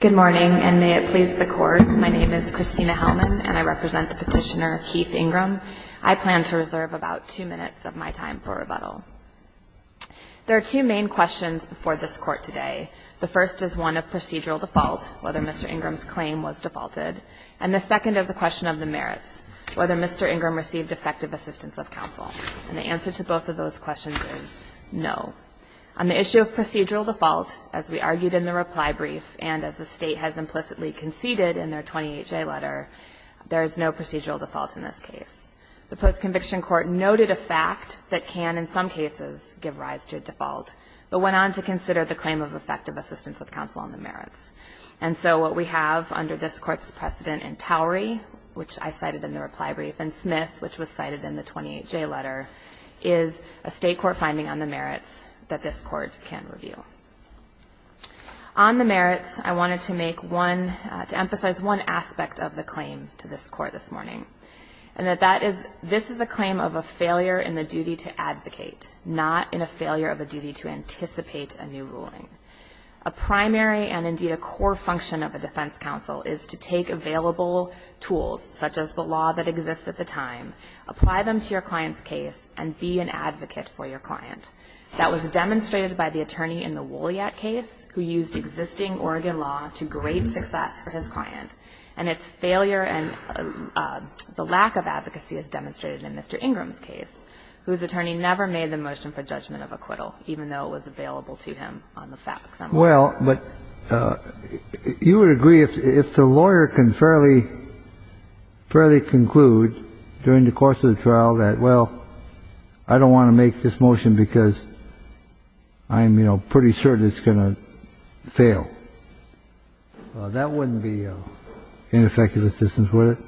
Good morning and may it please the court, my name is Christina Hellman and I represent the petitioner Keith Ingram. I plan to reserve about two minutes of my time for rebuttal. There are two main questions before this court today. The first is one of procedural default, whether Mr. Ingram's claim was defaulted, and the second is a question of the merits, whether Mr. Ingram received effective assistance of counsel, and the answer to both of those questions is no. On the issue of procedural default, as we argued in the reply brief and as the state has implicitly conceded in their 28J letter, there is no procedural default in this case. The post-conviction court noted a fact that can, in some cases, give rise to a default, but went on to consider the claim of effective assistance of counsel on the merits, and so what we have under this court's precedent in Towery, which I cited in the reply brief, and Smith, which was cited in the 28J letter, is a state court finding on the merits that this court can review. On the merits, I wanted to make one, to emphasize one aspect of the claim to this court this morning, and that that is, this is a claim of a failure in the duty to advocate, not in a failure of a duty to anticipate a new ruling. A primary and indeed a core function of a defense counsel is to take available tools, such as the law that exists at the time, apply them to your client's case, and be an advocate for your client. That was demonstrated by the attorney in the Wolyat case, who used existing Oregon law to great success for his client, and its failure and the lack of advocacy is demonstrated in Mr. Ingram's case, whose attorney never made the motion for judgment of acquittal, even though it was available to him on the fact that he was a lawyer. Kennedy. Well, but you would agree, if the lawyer can fairly conclude during the course of the trial that, well, I don't want to make this motion because I'm, you know, pretty sure that it's going to fail, that wouldn't be ineffective assistance, would it?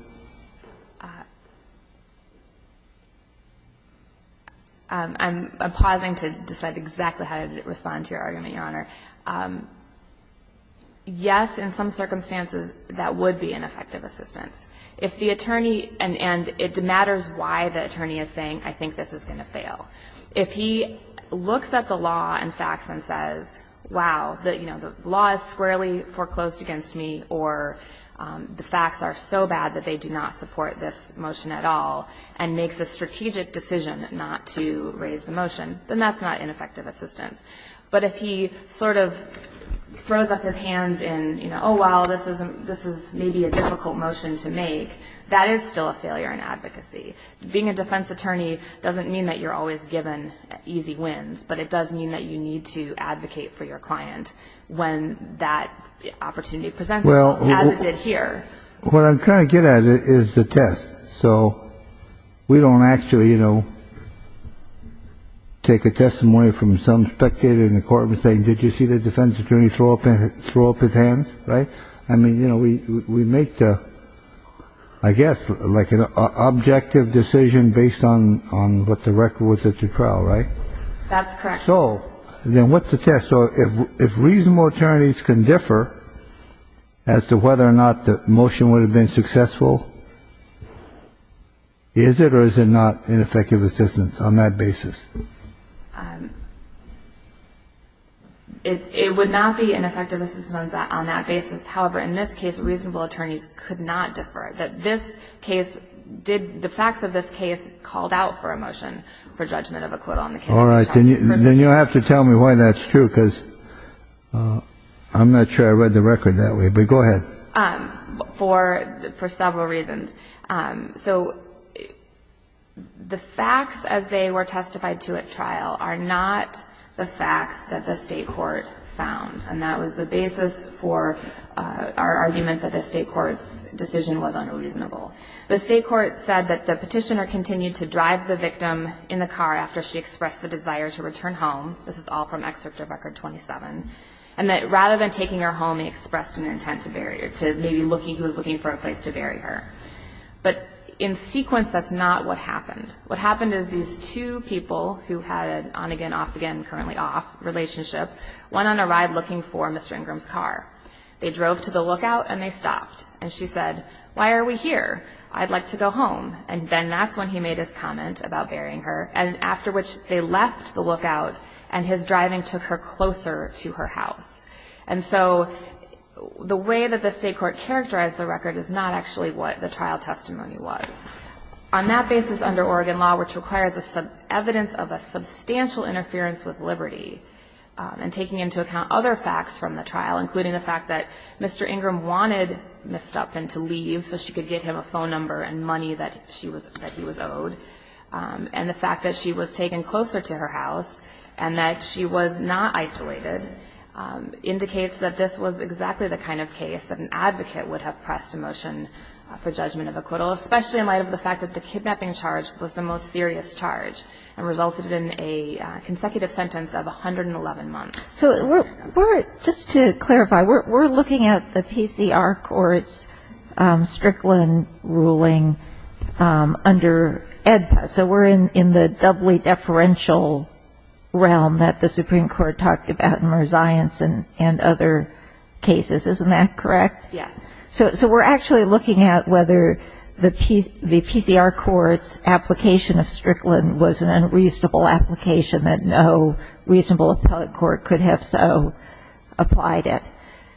I'm pausing to decide exactly how to respond to your argument, Your Honor. I'm going to say, yes, in some circumstances, that would be ineffective assistance. If the attorney, and it matters why the attorney is saying, I think this is going to fail. If he looks at the law and facts and says, wow, you know, the law is squarely foreclosed against me, or the facts are so bad that they do not support this motion at all, and makes a strategic decision not to raise the motion, then that's not But if he just sort of throws up his hands in, you know, oh, wow, this is maybe a difficult motion to make, that is still a failure in advocacy. Being a defense attorney doesn't mean that you're always given easy wins, but it does mean that you need to advocate for your client when that opportunity presents itself, as it did here. Well, what I'm trying to get at is the test. So we don't actually, you know, take the test and have a defense attorney throw up his hands, right? I mean, you know, we make the, I guess, like an objective decision based on what the record was at your trial, right? That's correct. So then what's the test? So if reasonable attorneys can differ as to whether or not the motion would have been successful, is it or is it not ineffective assistance on that basis? It would not be ineffective assistance on that basis. However, in this case, reasonable attorneys could not differ. That this case did, the facts of this case called out for a motion for judgment of a quote on the case. All right. Then you'll have to tell me why that's true, because I'm not sure I read the record that way, but go ahead. For several reasons. So the facts as they were testified to at trial are not the facts that the state court found, and that was the basis for our argument that the state court's decision was unreasonable. The state court said that the petitioner continued to drive the victim in the car after she expressed the desire to return home. This is all from Excerpt of Record 27. And that rather than taking her home, he expressed an intent to bury her, to maybe looking for a place to bury her. But in sequence, that's not what happened. What happened is these two people who had an on-again, off-again, currently off relationship went on a ride looking for Mr. Ingram's car. They drove to the lookout and they stopped. And she said, why are we here? I'd like to go home. And then that's when he made his comment about burying her. And after which they left the lookout, and his driving took her closer to her house. And so the way that the state court characterized the record is not actually what the trial testimony was. On that basis, under Oregon law, which requires evidence of a substantial interference with liberty, and taking into account other facts from the trial, including the fact that Mr. Ingram wanted Ms. Stupkin to leave so she could get him a phone number and money that he was owed, and the fact that she was taken closer to her house, and that she was not isolated, indicates that this was exactly the kind of case that an advocate would have pressed a motion for judgment of acquittal, especially in light of the fact that the kidnapping charge was the most serious charge, and resulted in a consecutive sentence of 111 months. So just to clarify, we're looking at the PCR court's Strickland ruling under EDPA. So we're in the doubly deferential realm that the Supreme Court talked about in Merzion's and other cases. Isn't that correct? Yes. So we're actually looking at whether the PCR court's application of Strickland was an unreasonable application that no reasonable appellate court could have so applied it.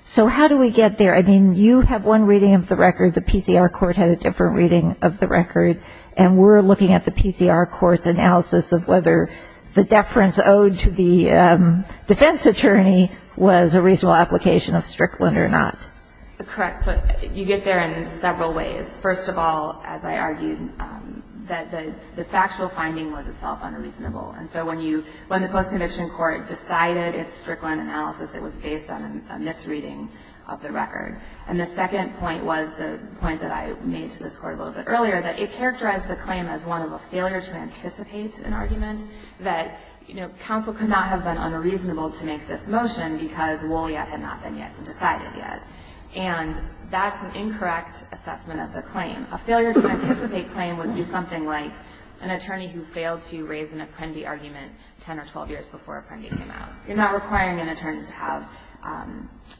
So how do we get there? I mean, you have one reading of the record. The PCR court had a different reading of the record. And we're looking at the PCR court's analysis of whether the deference owed to the defense attorney was a reasonable application of Strickland or not. Correct. So you get there in several ways. First of all, as I argued, that the factual finding was itself unreasonable. And so when the post-conviction court decided its Strickland analysis, it was based on a misreading of the record. And the second point was the point that I made to this court a little bit earlier, that it characterized the claim as one of a failure to anticipate an argument, that counsel could not have been unreasonable to make this motion because Wool yet had not been decided yet. And that's an incorrect assessment of the claim. A failure to anticipate claim would be something like an attorney who failed to raise an apprendee argument 10 or 12 years before an apprendee came out. You're not requiring an attorney to have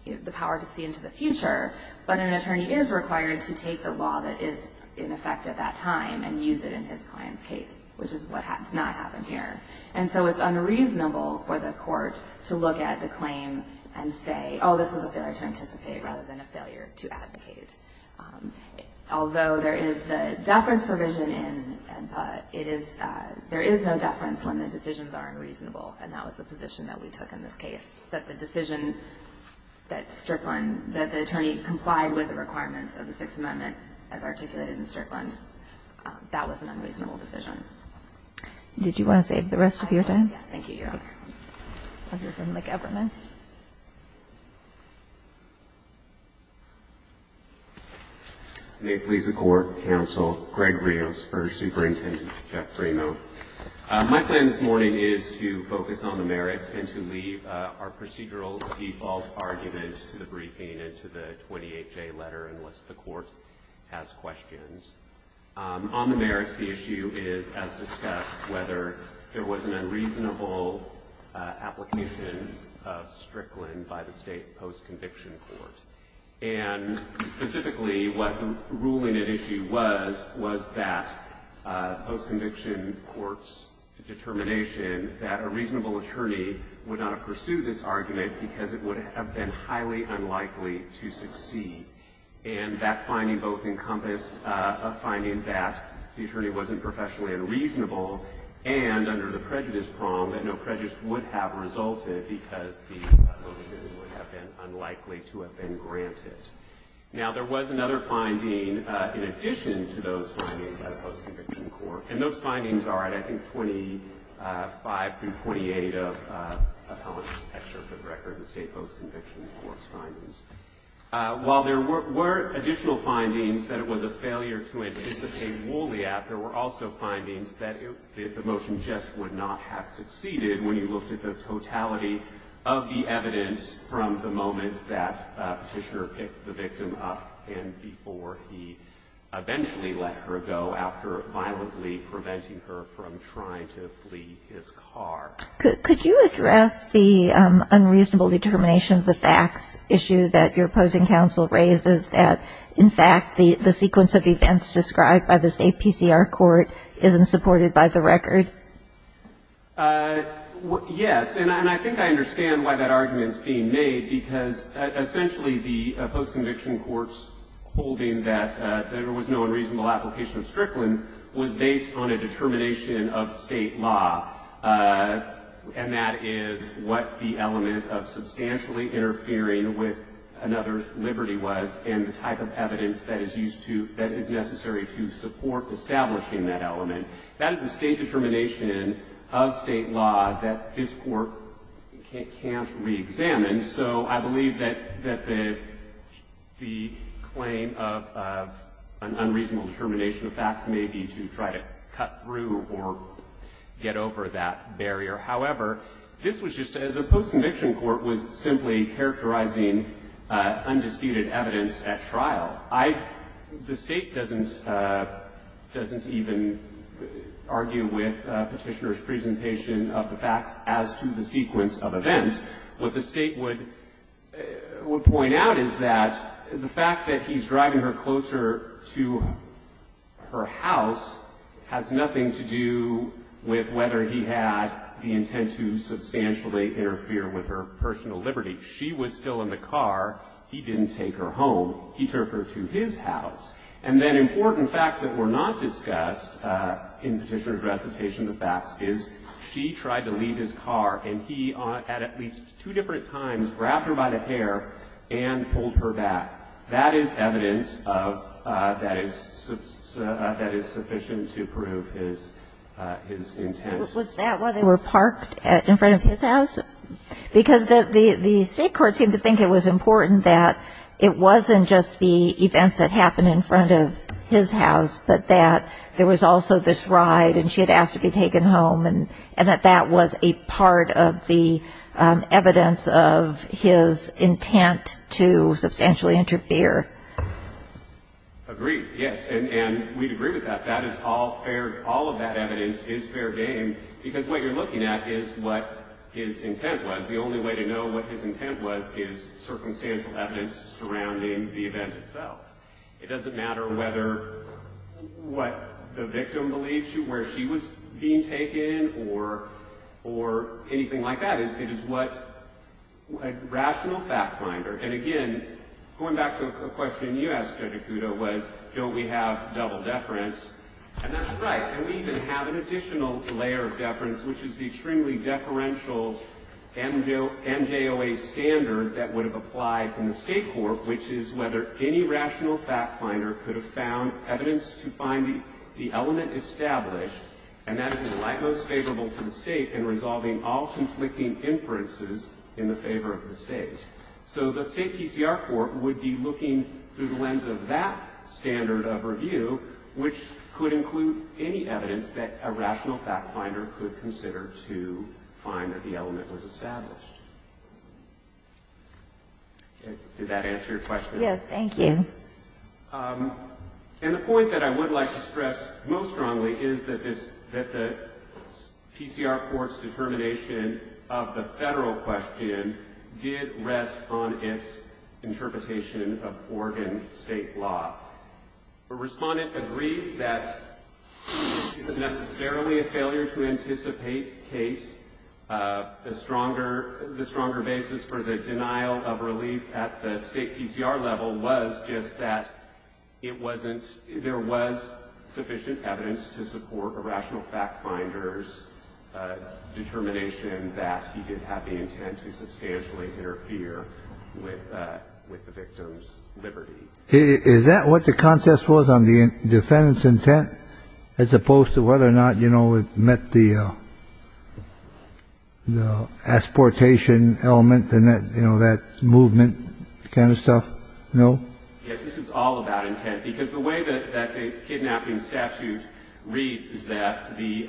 the power to see into the future, but an attorney is required to take the law that is in effect at that time and use it in his client's case, which is what has not happened here. And so it's unreasonable for the court to look at the claim and say, oh, this was a failure to anticipate rather than a failure to advocate. Although there is the deference provision in NPA, it is – there is no deference when the decisions are unreasonable. And that was the position that we took in this case, that the decision that Strickland – that the attorney complied with the requirements of the Sixth Amendment as articulated in Strickland. That was an unreasonable decision. Kagan. Did you want to save the rest of your time? Yes. Thank you, Your Honor. Thank you. We'll hear from McEverman. May it please the Court, Counsel, Greg Rios for Superintendent Jeff Reno. My plan this morning is to focus on the merits and to leave our procedural default argument to the briefing and to the 28-J letter unless the Court has questions. On the merits, the issue is, as discussed, whether there was an unreasonable application of Strickland by the State post-conviction court. And specifically, what the ruling at issue was, was that post-conviction court's determination that a reasonable attorney would not have pursued this argument because it would have been highly unlikely to succeed. And that finding both encompassed finding that the attorney wasn't professionally unreasonable and, under the prejudice prong, that no prejudice would have resulted because the provision would have been unlikely to have been granted. Now, there was another finding in addition to those findings by the post-conviction court, and those findings are at, I think, 25 through 28 of Appellant's extra foot record, the State post-conviction court's findings. While there were additional findings that it was a failure to anticipate Wooliap, there were also findings that the motion just would not have succeeded when you looked at the totality of the evidence from the moment that Petitioner picked the victim up and before he eventually let her go after violently preventing her from trying to flee his car. Could you address the unreasonable determination of the facts issue that your opposing counsel raises that, in fact, the sequence of events described by the State PCR court isn't supported by the record? Yes. And I think I understand why that argument is being made, because essentially the post-conviction court's holding that there was no unreasonable application of Strickland was based on a determination of State law, and that is what the element of substantially interfering with another's liberty was, and the type of evidence that is used to, that is necessary to support establishing that element. That is a State determination of State law that this court can't reexamine. So I believe that the claim of an unreasonable determination of facts may be to try to cut through or get over that barrier. However, this was just a, the post-conviction court was simply characterizing undisputed evidence at trial. I, the State doesn't, doesn't even argue with Petitioner's presentation of the facts as to the sequence of events. What the State would, would point out is that the fact that he's driving her closer to her house has nothing to do with whether he had the intent to substantially interfere with her personal liberty. She was still in the car. He didn't take her home. He took her to his house. And then important facts that were not discussed in Petitioner's recitation of the facts is she tried to leave his car, and he, at least two different times, grabbed her by the hair and pulled her back. That is evidence of, that is, that is sufficient to prove his, his intent. Was that while they were parked in front of his house? Because the, the State court seemed to think it was important that it wasn't just the events that happened in front of his house, but that there was also this ride and she had asked to be taken home and, and that that was a part of the evidence of his intent to substantially interfere. Agreed. Yes. And, and we'd agree with that. That is all fair, all of that evidence is fair game because what you're looking at is what his intent was. The only way to know what his intent was is circumstantial evidence surrounding the event itself. It doesn't matter whether, what the victim believes, where she was being taken or, or anything like that. It is what, a rational fact finder. And again, going back to a question you asked Judge Okuda was, don't we have double deference? And that's right. And we even have an additional layer of deference, which is the extremely deferential NJOA standard that would have applied in the State court, which is whether any rational fact finder could have found evidence to find the, the element established, and that is the like most favorable to the State in resolving all conflicting inferences in the favor of the State. So the State PCR court would be looking through the lens of that standard of review, which could include any evidence that a rational fact finder could consider to find that the element was established. Did that answer your question? Yes, thank you. And the point that I would like to stress most strongly is that this, that the PCR court's determination of the Federal question did rest on its interpretation of Oregon State law. The respondent agrees that it isn't necessarily a failure to anticipate the case. The stronger, the stronger basis for the denial of relief at the State PCR level was just that it wasn't, there was sufficient evidence to support a rational fact finder's determination that he did have the intent to substantially interfere with, with the victim's liberty. Is that what the contest was on the defendant's intent as opposed to whether or not, you know, the asportation element and that, you know, that movement kind of stuff? No? Yes, this is all about intent. Because the way that the kidnapping statute reads is that the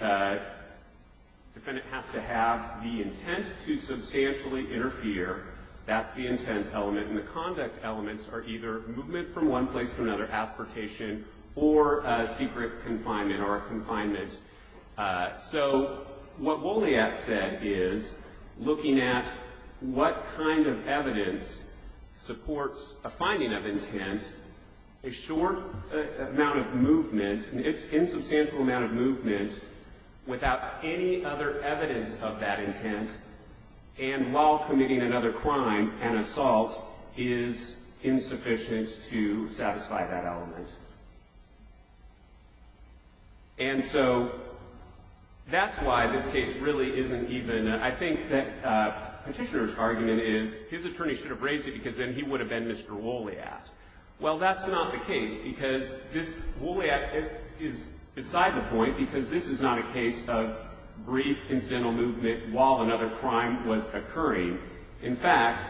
defendant has to have the intent to substantially interfere. That's the intent element. And the conduct elements are either movement from one place to another, asportation, or a secret confinement or a confinement. So what Wolyak said is, looking at what kind of evidence supports a finding of intent, a short amount of movement, an insubstantial amount of movement without any other evidence of that intent, and while the defendant has the intent to interfere with, with the victim's liberty, the defendant has to have the intent to substantially interfere with that element. And so that's why this case really isn't even, I think that Petitioner's argument is, his attorney should have raised it because then he would have been Mr. Wolyak. Well, that's not the case because this, Wolyak is beside the point because this is not a case of brief incidental movement while another crime was occurring. In fact,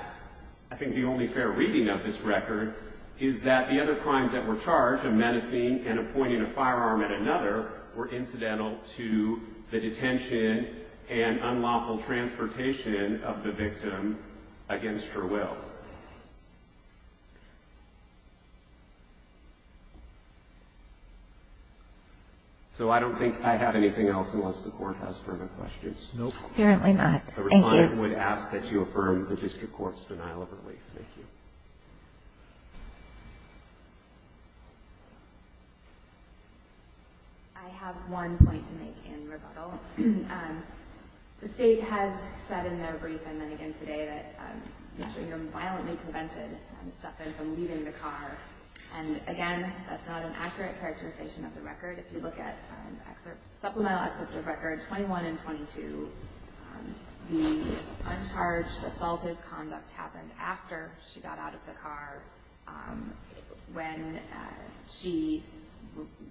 I think the only fair reading of this record is that the other crimes that were charged, a menacing and appointing a firearm at another, were incidental to the detention and unlawful transportation of the victim against her will. So I don't think I have anything else unless the Court has further questions. Nope. Apparently not. Thank you. The reply would ask that you affirm the District Court's denial of relief. Thank you. I have one point to make in rebuttal. The State has said in their brief and then again today that Mr. Ingham violently prevented Stephen from leaving the car. And again, that's not an accurate characterization of the record. If you look at supplemental excerpt of record 21 and 22, the uncharged assaultive conduct happened after she got out of the car when she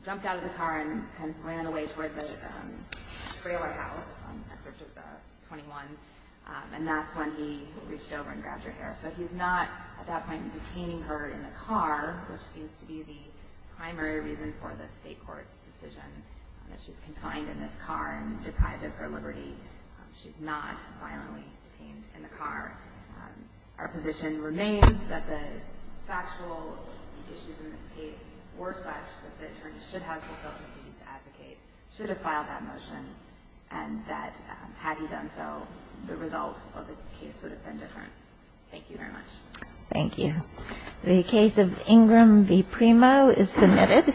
jumped out of the car and ran away towards the trailer house, excerpt of the 21. And that's when he reached over and grabbed her hair. So he's not, at that point, detaining her in the car, which seems to be the primary reason for the State Court's decision that she's confined in this car and deprived of her liberty. She's not violently detained in the car. Our position remains that the factual issues in this case were such that the attorney should have fulfilled his duty to advocate, should have filed that motion, and that had he done so, the result of the case would have been different. Thank you very much. Thank you. The case of Ingham v. Primo is submitted.